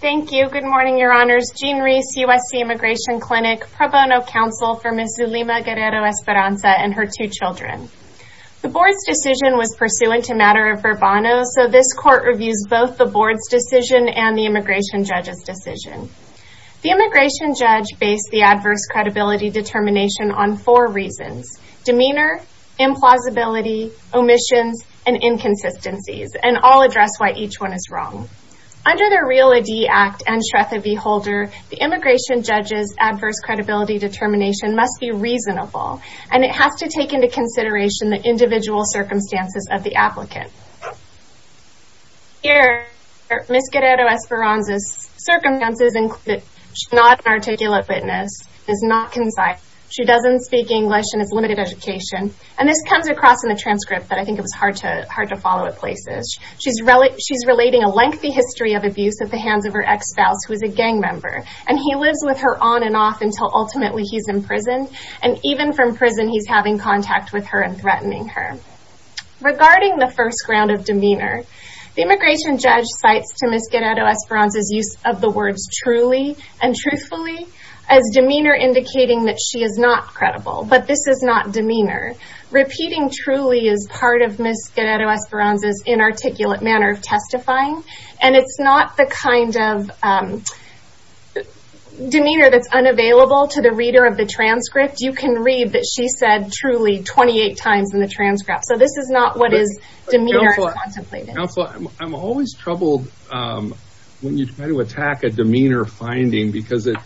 Thank you. Good morning, your honors. Jean Reese, USC Immigration Clinic, pro bono counsel for Ms. Zulima Guerrero-Esperanza and her two children. The board's decision was pursuant to matter of verbano, so this court reviews both the board's decision and the immigration judge's decision. The immigration judge based the adverse credibility determination on four reasons, demeanor, implausibility, omissions, and and Shretha V. Holder, the immigration judge's adverse credibility determination must be reasonable, and it has to take into consideration the individual circumstances of the applicant. Here, Ms. Guerrero-Esperanza's circumstances include that she's not an articulate witness, is not concise, she doesn't speak English, and has limited education, and this comes across in the transcript, but I think it was hard to follow at places. She's relating a lengthy history of abuse at the hands of her ex-spouse, who is a gang member, and he lives with her on and off until ultimately he's imprisoned, and even from prison, he's having contact with her and threatening her. Regarding the first ground of demeanor, the immigration judge cites to Ms. Guerrero-Esperanza's use of the words truly and truthfully as demeanor indicating that she is not credible, but this is not demeanor. Repeating truly is part of Ms. Guerrero-Esperanza's inarticulate manner of testifying, and it's not the kind of demeanor that's unavailable to the reader of the transcript. You can read that she said truly 28 times in the transcript, so this is not what is demeanor contemplated. Counselor, I'm always troubled when you try to attack a demeanor finding because it is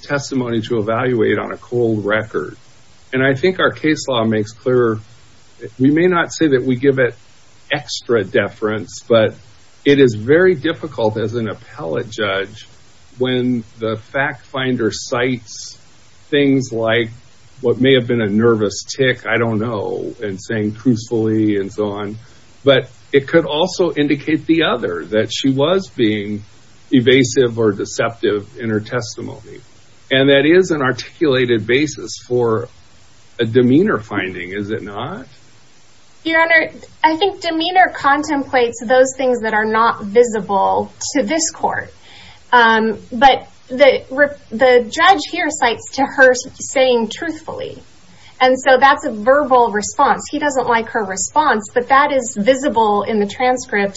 testimony to evaluate on a cold record, and I think our case law makes clear, we may not say that we give it extra deference, but it is very difficult as an appellate judge when the fact finder cites things like what may have been a nervous tick, I don't know, and saying crucially and so on, but it could also indicate the other, that she was being evasive or deceptive in her testimony, and that is an articulated basis for a demeanor finding, is it not? Your Honor, I think demeanor contemplates those things that are not visible to this court, but the judge here cites to her saying truthfully, and so that's a verbal response. He doesn't like her response, but that is visible in the testimony.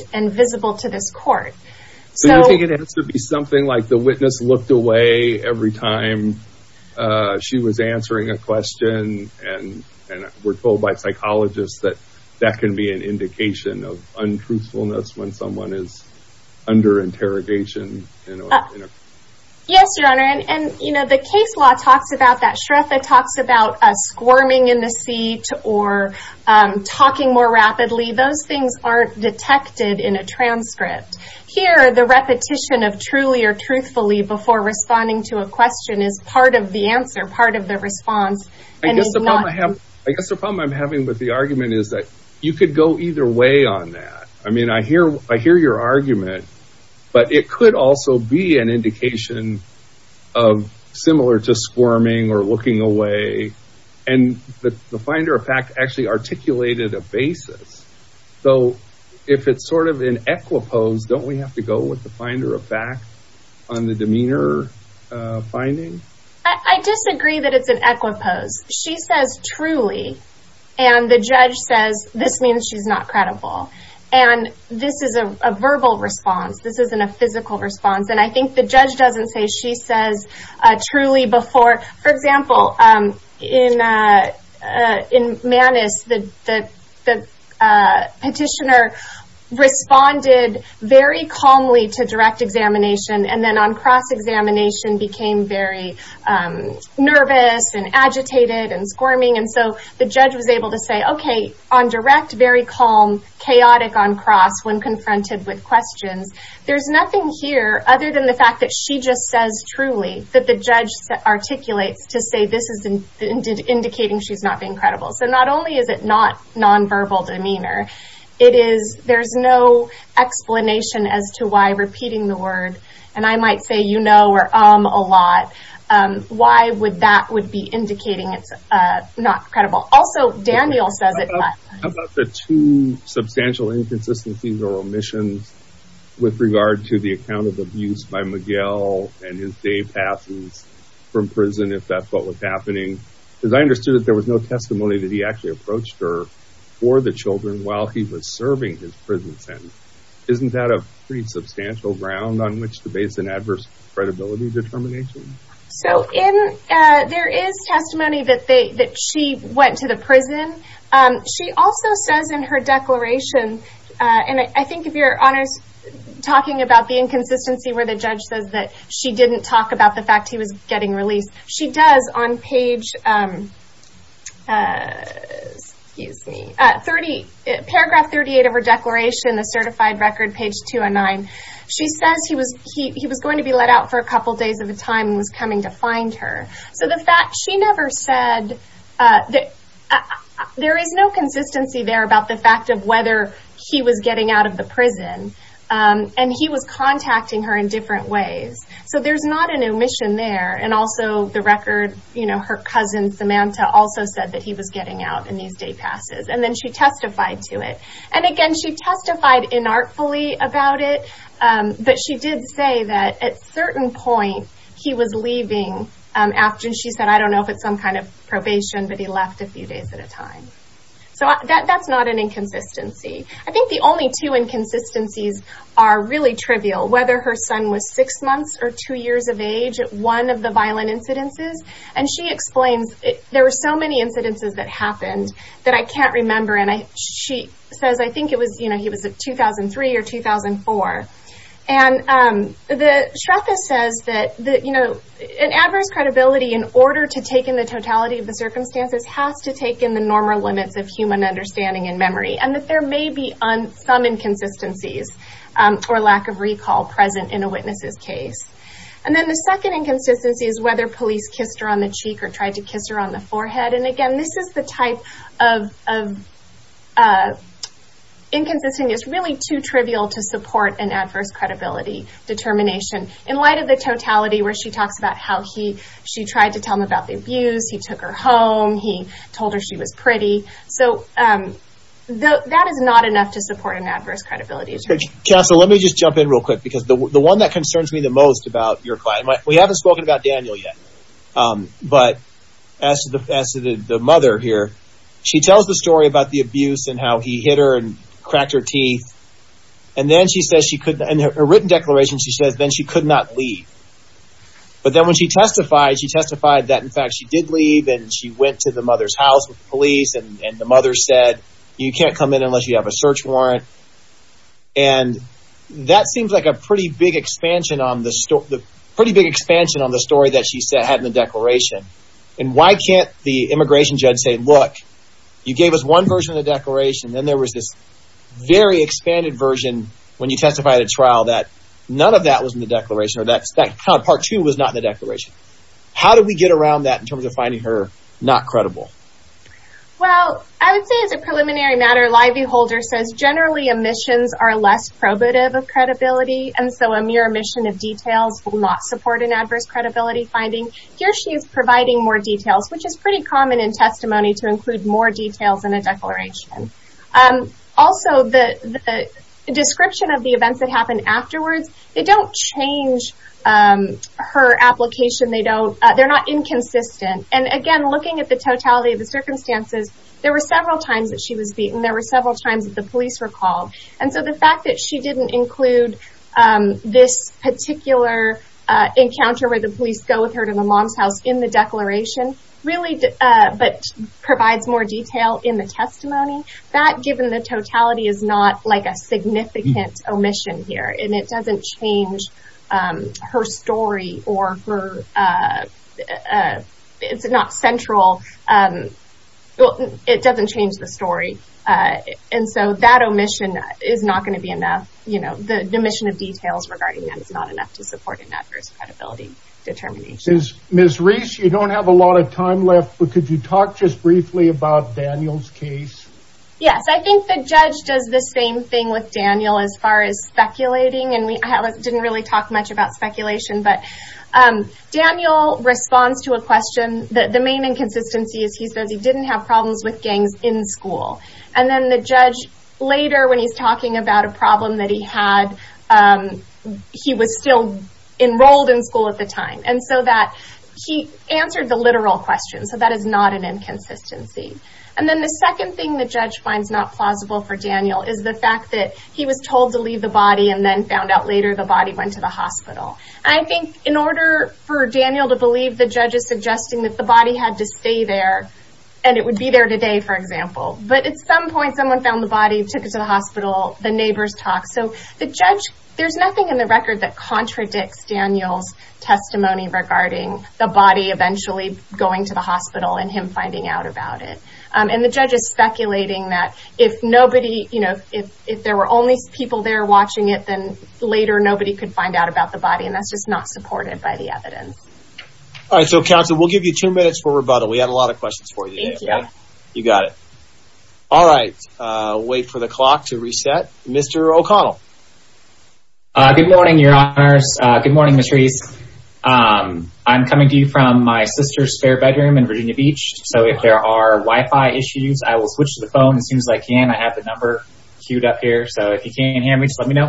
The witness looked away every time she was answering a question, and we're told by psychologists that that can be an indication of untruthfulness when someone is under interrogation. Yes, Your Honor, and the case law talks about that. Shreffa talks about squirming in the seat or talking more rapidly. Those things aren't detected in a transcript. Here, the repetition of truly or truthfully before responding to a question is part of the answer, part of the response. I guess the problem I'm having with the argument is that you could go either way on that. I mean, I hear your argument, but it could also be an indication of similar to squirming or looking away, and the finder of fact actually articulated a basis. So, if it's sort of an equipoise, don't we have to go with the finder of fact on the demeanor finding? I disagree that it's an equipoise. She says truly, and the judge says this means she's not credible, and this is a verbal response. This isn't a physical response, and I think the judge doesn't say she says truly before. For example, in Manus, the petitioner responded very calmly to direct examination, and then on cross-examination became very nervous and agitated and squirming, and so the judge was able to say, okay, on direct, very calm, chaotic on cross when confronted with questions. There's nothing here other than the fact that she just says truly that the judge articulates to say this is indicating she's not being credible. Not only is it not nonverbal demeanor, there's no explanation as to why repeating the word, and I might say you know or um a lot, why would that be indicating it's not credible? Also, Daniel says it's not. How about the two substantial inconsistencies or omissions with regard to the account of abuse by Miguel and his day passes from prison if that's what was actually approached her for the children while he was serving his prison sentence? Isn't that a pretty substantial ground on which to base an adverse credibility determination? So, there is testimony that she went to the prison. She also says in her declaration, and I think if you're honest talking about the inconsistency where the judge says that she didn't talk about the fact he was getting released, she does on page excuse me at 30 paragraph 38 of her declaration the certified record page 209. She says he was going to be let out for a couple days at a time and was coming to find her. So, the fact she never said that there is no consistency there about the fact of whether he was getting out of the prison and he was contacting her in different ways. So, there's not an omission there and also the record you know her cousin Samantha also said he was getting out in these day passes and then she testified to it and again she testified inartfully about it but she did say that at certain point he was leaving after she said I don't know if it's some kind of probation but he left a few days at a time. So, that's not an inconsistency. I think the only two inconsistencies are really trivial whether her son was six months or two years of age at one of the violent incidences and she explains there were so many incidences that happened that I can't remember and I she says I think it was you know he was a 2003 or 2004 and the Shreffa says that you know an adverse credibility in order to take in the totality of the circumstances has to take in the normal limits of human understanding and memory and that there may be some inconsistencies or lack of recall present in a witness's case. And then the second inconsistency is whether police kissed her on the cheek or tried to kiss her on the forehead and again this is the type of inconsistency is really too trivial to support an adverse credibility determination in light of the totality where she talks about how he she tried to tell him about the abuse he took her home he told her she was pretty so that is not enough to support an adverse credibility. Counselor, let me just jump in real quick because the one that concerns me the most about your client we haven't spoken about Daniel yet but as the mother here she tells the story about the abuse and how he hit her and cracked her teeth and then she says she couldn't and her written declaration she says then she could not leave but then when she testified she testified that in fact she did leave and she went to the mother's house with the police and the mother said you can't come in unless you have a search warrant and that seems like a pretty big expansion on the story the pretty big expansion on the story that she said had in the declaration and why can't the immigration judge say look you gave us one version of the declaration then there was this very expanded version when you testified at trial that none of that was in the declaration or that's that part two was not in the declaration how did we get around that in terms of finding her not credible? Well I would say as a preliminary matter Livey Holder says generally omissions are less probative of credibility and so a mere omission of details will not support an adverse credibility finding. Here she is providing more details which is pretty common in testimony to include more details in a declaration. Also the description of the events that happen afterwards they don't change her application they don't they're not inconsistent and again looking at the totality of the circumstances there were several times that she was beaten there were several times that the police were called and so the fact that she didn't include this particular encounter where the police go with her to the mom's house in the declaration really but provides more detail in the testimony that given the totality is not like a significant omission here and it doesn't change her story or her it's not central well it doesn't change the story and so that omission is not going to be enough you know the omission of details regarding that is not enough to support an adverse credibility determination. Ms. Reese you don't have a lot of time left but could you talk just briefly about Daniel's case? Yes I think the judge does the same thing with Daniel as far as speculating and we didn't really talk much about speculation but Daniel responds to a question that the main inconsistency is he says he didn't have problems with gangs in school and then the judge later when he's talking about a problem that he had he was still enrolled in school at the time and so that he answered the literal question so that is not an inconsistency and then the second thing the judge finds not plausible for Daniel is the fact that he was told to leave the body and then found out later the body went to the hospital I think in order for Daniel to believe the judge is suggesting that the body had to stay there and it would be there today for example but at some point someone found the body took it to the hospital the neighbors talked so the judge there's nothing in the record that contradicts Daniel's testimony regarding the body eventually going to the hospital and him finding out about it and the judge is speculating that if nobody you know if if there were only people there watching it then later nobody could find out about the body and that's just not supported by the evidence all right so counsel we'll give you two minutes for rebuttal we had a lot of questions for you thank you you got it all right uh wait for the clock to reset Mr. O'Connell uh good morning your honors uh good morning Mr. East um I'm coming to you from my sister's spare bedroom in Virginia Beach so if there are wi-fi issues I will switch the phone as soon as I can I have the number queued up here so if you can't hear me just let me know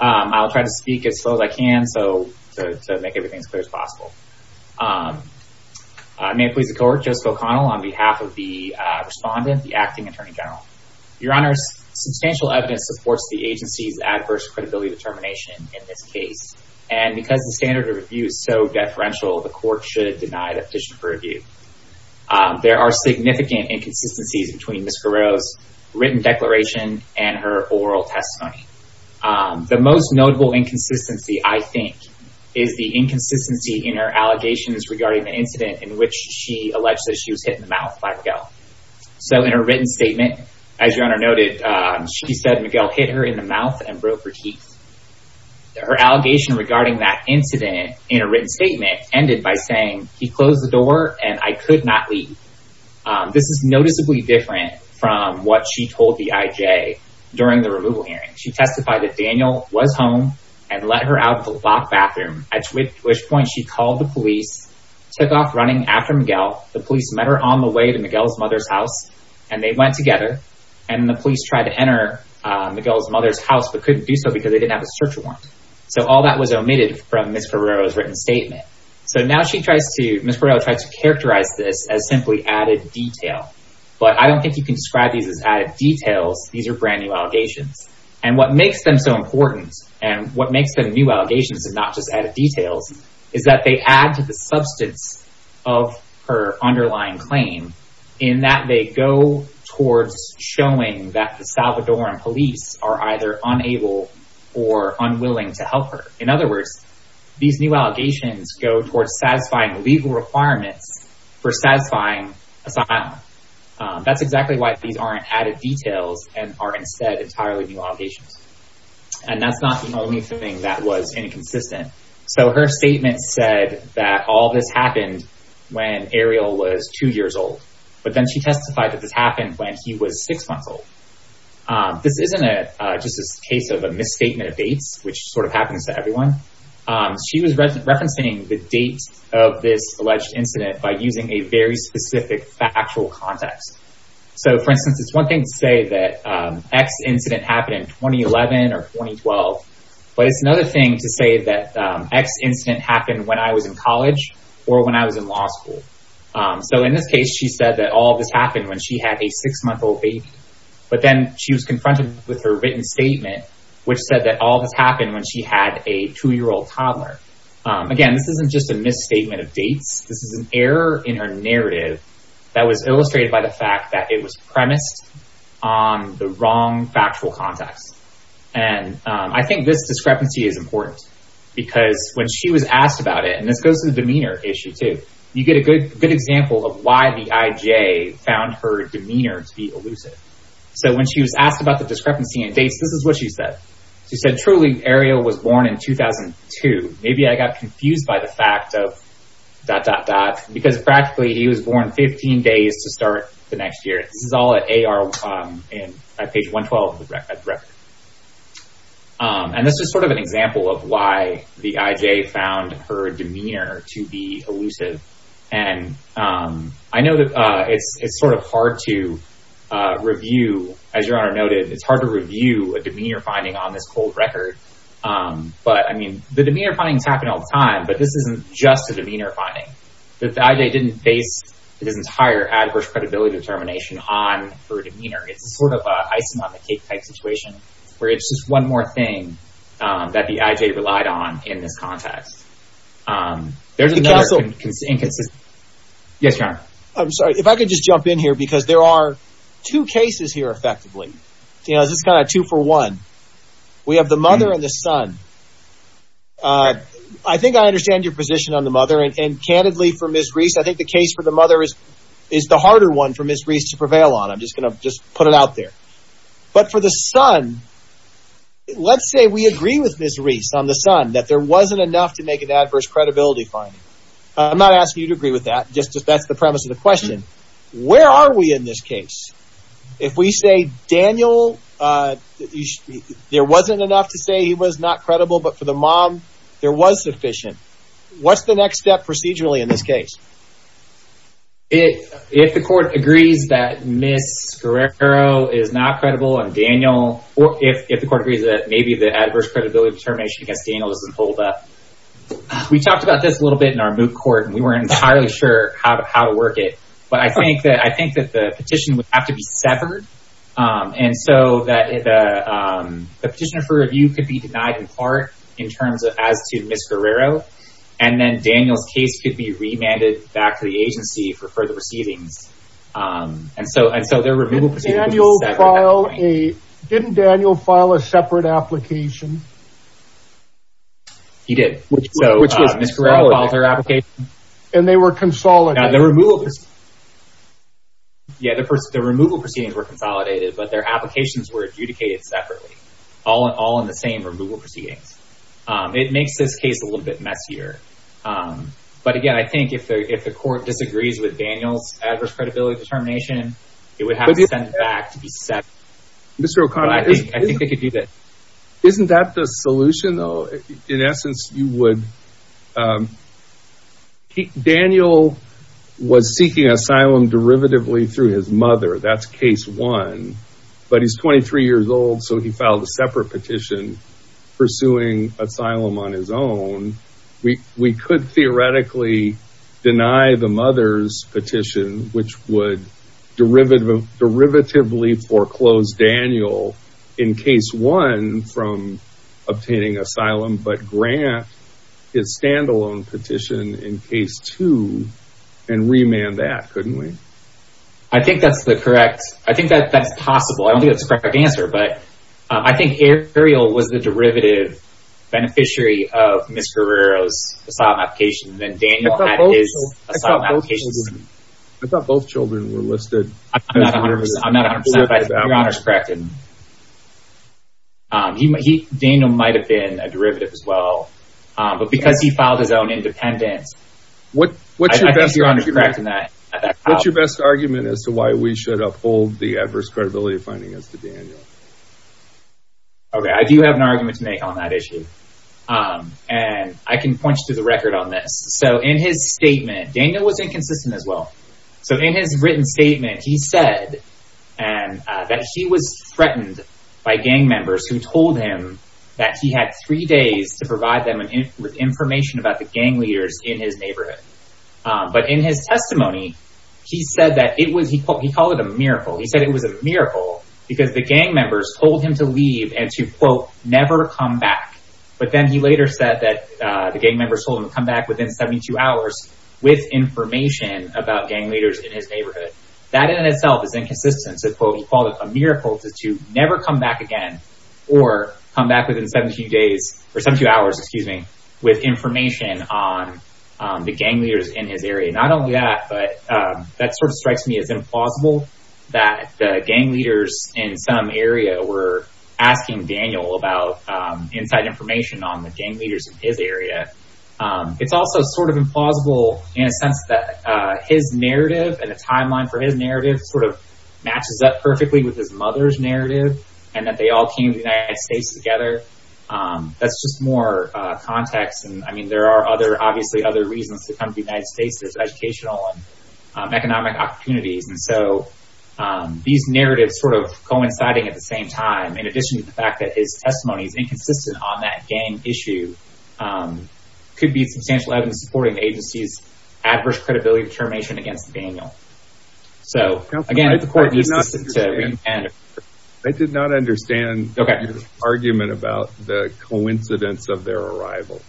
um I'll try to speak as slow as I can so to make everything as clear as possible um I may please the court Joseph O'Connell on behalf of the uh respondent the acting attorney general your honors substantial evidence supports the agency's adverse credibility determination in this case and because the standard of review is so deferential the court should deny the petition for review there are significant inconsistencies between Ms. Guerrero's written declaration and her oral testimony the most notable inconsistency I think is the inconsistency in her allegations regarding the incident in which she alleged that she was hit in the mouth by Miguel so in her written statement as your honor noted she said Miguel hit her in the mouth and broke her teeth her allegation regarding that incident in a written statement ended by saying he closed the door and I could not leave this is noticeably different from what she told the IJ during the removal hearing she testified that Daniel was home and let her out of the locked bathroom at which point she called the police took off running after Miguel the police met her on the way to Miguel's mother's house and they went together and the police tried to enter Miguel's mother's house but couldn't do so because they didn't have a search warrant so all that was omitted from Ms. Guerrero tried to characterize this as simply added detail but I don't think you can describe these as added details these are brand new allegations and what makes them so important and what makes them new allegations is not just added details is that they add to the substance of her underlying claim in that they go towards showing that the Salvadoran police are either unable or unwilling to help her in other words these new allegations go towards satisfying legal requirements for satisfying asylum that's exactly why these aren't added details and are instead entirely new allegations and that's not the only thing that was inconsistent so her statement said that all this happened when Ariel was two years old but then she testified that this happened when he was six months old this isn't a just a case of a misstatement of dates which sort of by using a very specific factual context so for instance it's one thing to say that x incident happened in 2011 or 2012 but it's another thing to say that x incident happened when I was in college or when I was in law school so in this case she said that all this happened when she had a six-month-old baby but then she was confronted with her written statement which said that all this happened when she had a two-year-old toddler again this isn't just a misstatement of this is an error in her narrative that was illustrated by the fact that it was premised on the wrong factual context and I think this discrepancy is important because when she was asked about it and this goes to the demeanor issue too you get a good good example of why the IJ found her demeanor to be elusive so when she was asked about the discrepancy in dates this is what she said she said truly Ariel was born in 2002 maybe I got confused by the fact of dot dot dot because practically he was born 15 days to start the next year this is all at AR in at page 112 and this is sort of an example of why the IJ found her demeanor to be elusive and I know that it's it's sort of hard to review as your honor noted it's hard to review a demeanor finding on this cold record but I mean the demeanor findings happen all the time but this isn't just a demeanor finding that the IJ didn't base this entire adverse credibility determination on her demeanor it's sort of a icing on the cake type situation where it's just one more thing that the IJ relied on in this context um there's another inconsistency yes your honor I'm sorry if I could just jump in here because there are two cases here effectively you know this is kind of two for one we have the mother and the son uh I think I understand your position on the mother and candidly for Miss Reese I think the case for the mother is is the harder one for Miss Reese to prevail on I'm just gonna just put it out there but for the son let's say we agree with Miss Reese on the son that there wasn't enough to make an adverse credibility finding I'm not asking you to agree with that just that's the premise of the question where are we in this case if we say Daniel uh there wasn't enough to say he was not credible but for the mom there was sufficient what's the next step procedurally in this case if if the court agrees that Miss Guerrero is not against Daniel we talked about this a little bit in our moot court and we weren't entirely sure how to how to work it but I think that I think that the petition would have to be severed um and so that the petitioner for review could be denied in part in terms of as to Miss Guerrero and then Daniel's case could be remanded back to the agency for further proceedings um and so and the annual file a didn't Daniel file a separate application he did which so which was Miss Guerrero filed her application and they were consolidated the removal yeah the person the removal proceedings were consolidated but their applications were adjudicated separately all in all in the same removal proceedings um it makes this case a little bit messier um but again I think if the if the court disagrees with Daniel's to be set Mr. O'Connor I think I think they could do that isn't that the solution though in essence you would um Daniel was seeking asylum derivatively through his mother that's case one but he's 23 years old so he filed a separate petition pursuing asylum on his own we we could theoretically deny the mother's petition which would derivative derivatively foreclose Daniel in case one from obtaining asylum but grant his standalone petition in case two and remand that couldn't we I think that's the correct I think that that's possible I don't think that's a correct answer but I think Ariel was the derivative beneficiary of Miss Guerrero's application and then Daniel had his asylum applications I thought both children were listed I'm not a hundred percent Daniel might have been a derivative as well but because he filed his own independence what what's your best argument as to why we should uphold the adverse credibility finding as to Daniel okay I do have an argument to make on that issue um and I can point you to the record on this so in his statement Daniel was inconsistent as well so in his written statement he said and that he was threatened by gang members who told him that he had three days to provide them with information about the gang leaders in his neighborhood but in his testimony he said that it was he called he called it a miracle he said it was a miracle because the gang members told him to leave and to quote never come back but then he later said that the gang members told him to come back within 72 hours with information about gang leaders in his neighborhood that in itself is inconsistent so quote he called it a miracle to never come back again or come back within 17 days or 72 hours excuse me with information on the gang leaders in his area not only that but that sort of strikes me as implausible that the gang leaders in some area were asking Daniel about inside information on the gang leaders in his area it's also sort of implausible in a sense that his narrative and the timeline for his narrative sort of matches up perfectly with his mother's narrative and that they all came to the United States together that's just more context and I mean there are other obviously other reasons to come to the United States there's educational and economic opportunities and so these narratives sort of coinciding at the same time in addition to the fact that his testimony is inconsistent on that gang issue could be substantial evidence supporting the agency's adverse credibility determination against Daniel so again the court did not understand they did not understand okay argument about the coincidence of their arrival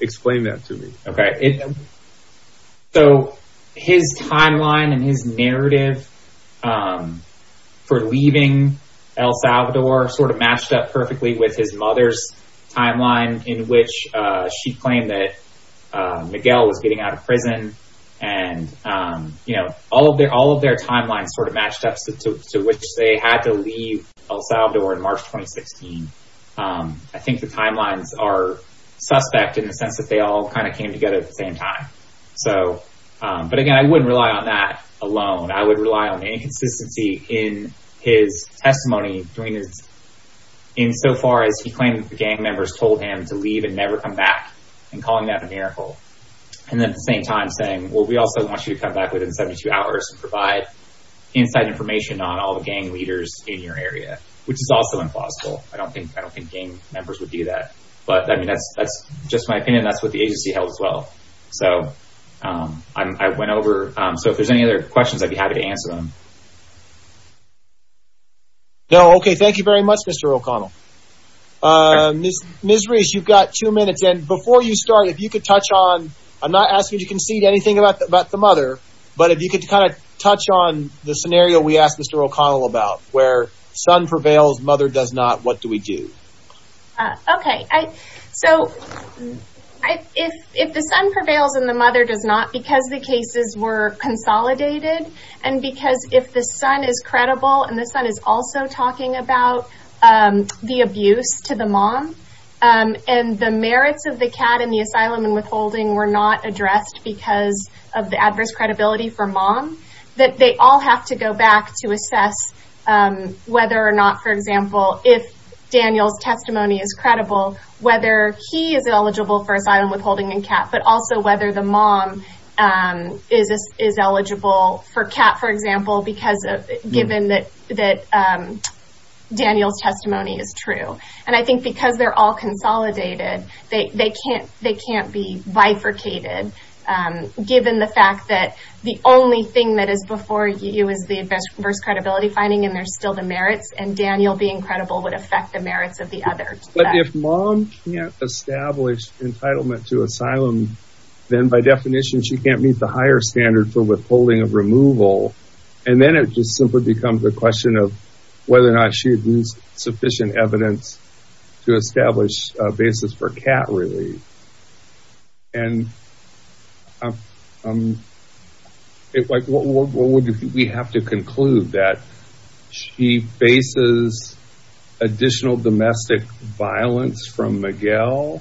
explain that to me okay so his timeline and his narrative for leaving El Salvador sort of matched up perfectly with his mother's timeline in which she claimed that Miguel was getting out of prison and you know all of their all of their timelines sort of matched up to which they had to leave El Salvador in March 2016. I think the timelines are suspect in the sense that they all kind of came together at the same time so but again I wouldn't rely on that alone I would rely on inconsistency in his testimony during his in so far as he claimed the gang members told him to leave and never come back and calling that a miracle and then at the same time saying well we also want you to come back within 72 hours and provide inside information on all the leaders in your area which is also implausible I don't think I don't think gang members would do that but I mean that's that's just my opinion that's what the agency held as well so I went over so if there's any other questions I'd be happy to answer them. No okay thank you very much Mr. O'Connell. Ms. Reese you've got two minutes and before you start if you could touch on I'm not asking you to concede anything about the mother but if you could kind of touch on the scenario we asked Mr. O'Connell about where son prevails mother does not what do we do? Okay I so I if if the son prevails and the mother does not because the cases were consolidated and because if the son is credible and the son is also talking about the abuse to the mom and the merits of the CAD and the asylum and withholding were not addressed because of the adverse credibility for mom that they all have to go back to assess whether or not for example if Daniel's testimony is credible whether he is eligible for asylum withholding and CAT but also whether the mom is is eligible for CAT for example because of given that that Daniel's testimony is true and I think because they're all consolidated they they can't they um given the fact that the only thing that is before you is the adverse credibility finding and there's still the merits and Daniel being credible would affect the merits of the others. But if mom can't establish entitlement to asylum then by definition she can't meet the higher standard for withholding of removal and then it just simply becomes a question of whether or not sufficient evidence to establish a basis for CAT relief and um um it like what would we have to conclude that she faces additional domestic violence from Miguel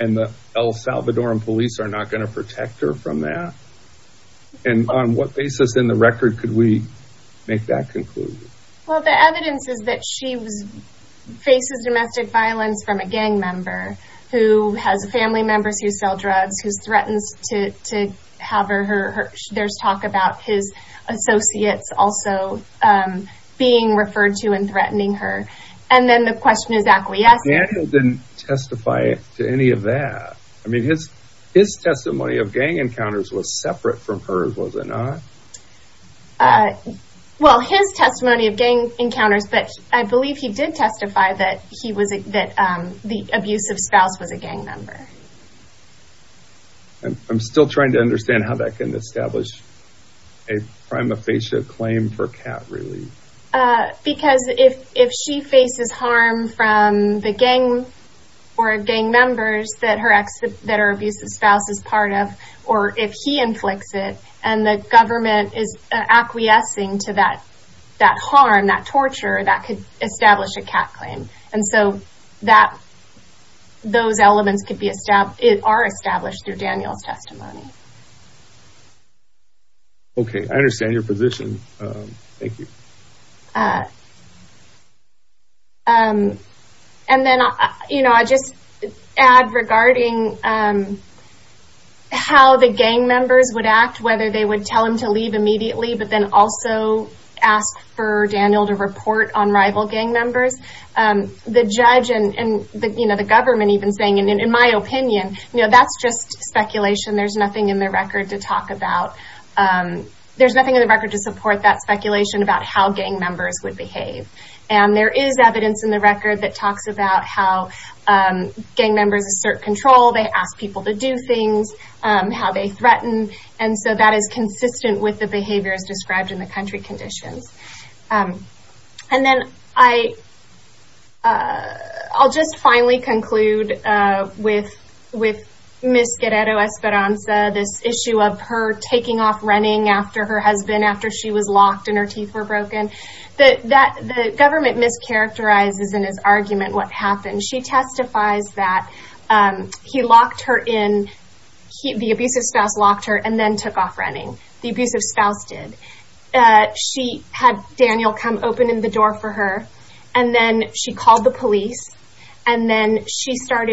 and the El Salvadoran police are not going to protect her from that and on what basis in the record could we make that conclusion? Well the evidence is that she was faces domestic violence from a gang member who has family members who sell drugs who's threatens to to have her her there's talk about his associates also um being referred to and threatening her and then the question is acquiescing. Daniel didn't testify to any of that I mean his his testimony of gang encounters was separate from hers was it not? Uh well his testimony of gang encounters but I believe he did testify that he was that um the abusive spouse was a gang member. I'm still trying to understand how that can establish a prima facie claim for CAT relief. Uh because if if she faces harm from the gang or gang members that her ex that her abusive spouse is part of or if he inflicts it and the government is acquiescing to that that harm that torture that could establish a CAT claim and so that those elements could be established it are established through Daniel's testimony. Okay I understand your position um thank you. Uh um and then you know I just add regarding um how the gang members would act whether they would tell him to leave immediately but then also ask for Daniel to report on rival gang members um the judge and and the you know the government even saying and in my opinion you know that's just speculation there's nothing in the record to talk about um there's nothing in the record to support that speculation about how gang members would behave and there is evidence in the record that talks about how um gang members assert control they ask people to do things um how they threaten and so that is consistent with the behaviors described in the country conditions and then I uh I'll just finally conclude uh with with Miss Guerrero Esperanza this issue of her taking off running after her husband after she was locked and her teeth were broken that that the government mischaracterizes in his argument what happened she testifies that um he locked her in he the abusive spouse locked her and then took off running the abusive spouse did uh she had Daniel come open in the door for her and then she called the police and then she starts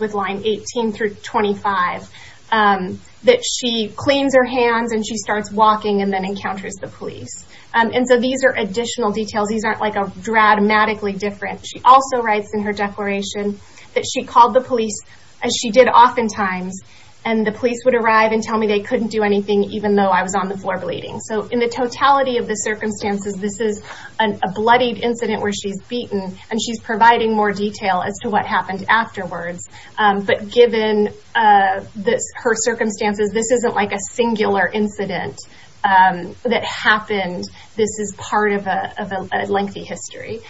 with line 18 through 25 um that she cleans her hands and she starts walking and then encounters the police um and so these are additional details these aren't like a dramatically different she also writes in her declaration that she called the police as she did oftentimes and the police would arrive and tell me they couldn't do anything even though I was on the floor bleeding so in the totality of the circumstances this is an a bloodied incident where she's beaten and she's providing more detail as to what happened afterwards um but given uh this her circumstances this isn't like a singular incident um that happened this is part of a lengthy history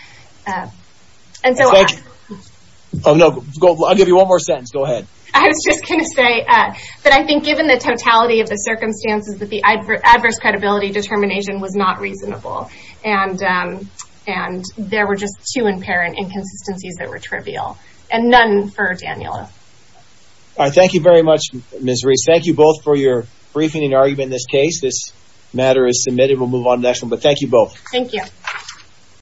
and so oh no I'll give you one more sentence go ahead I was just gonna say uh that I think given the totality of the circumstances that the adverse credibility determination was not inconsistencies that were trivial and none for Daniella all right thank you very much Miss Reese thank you both for your briefing and argument in this case this matter is submitted we'll move on to the next one but thank you both thank you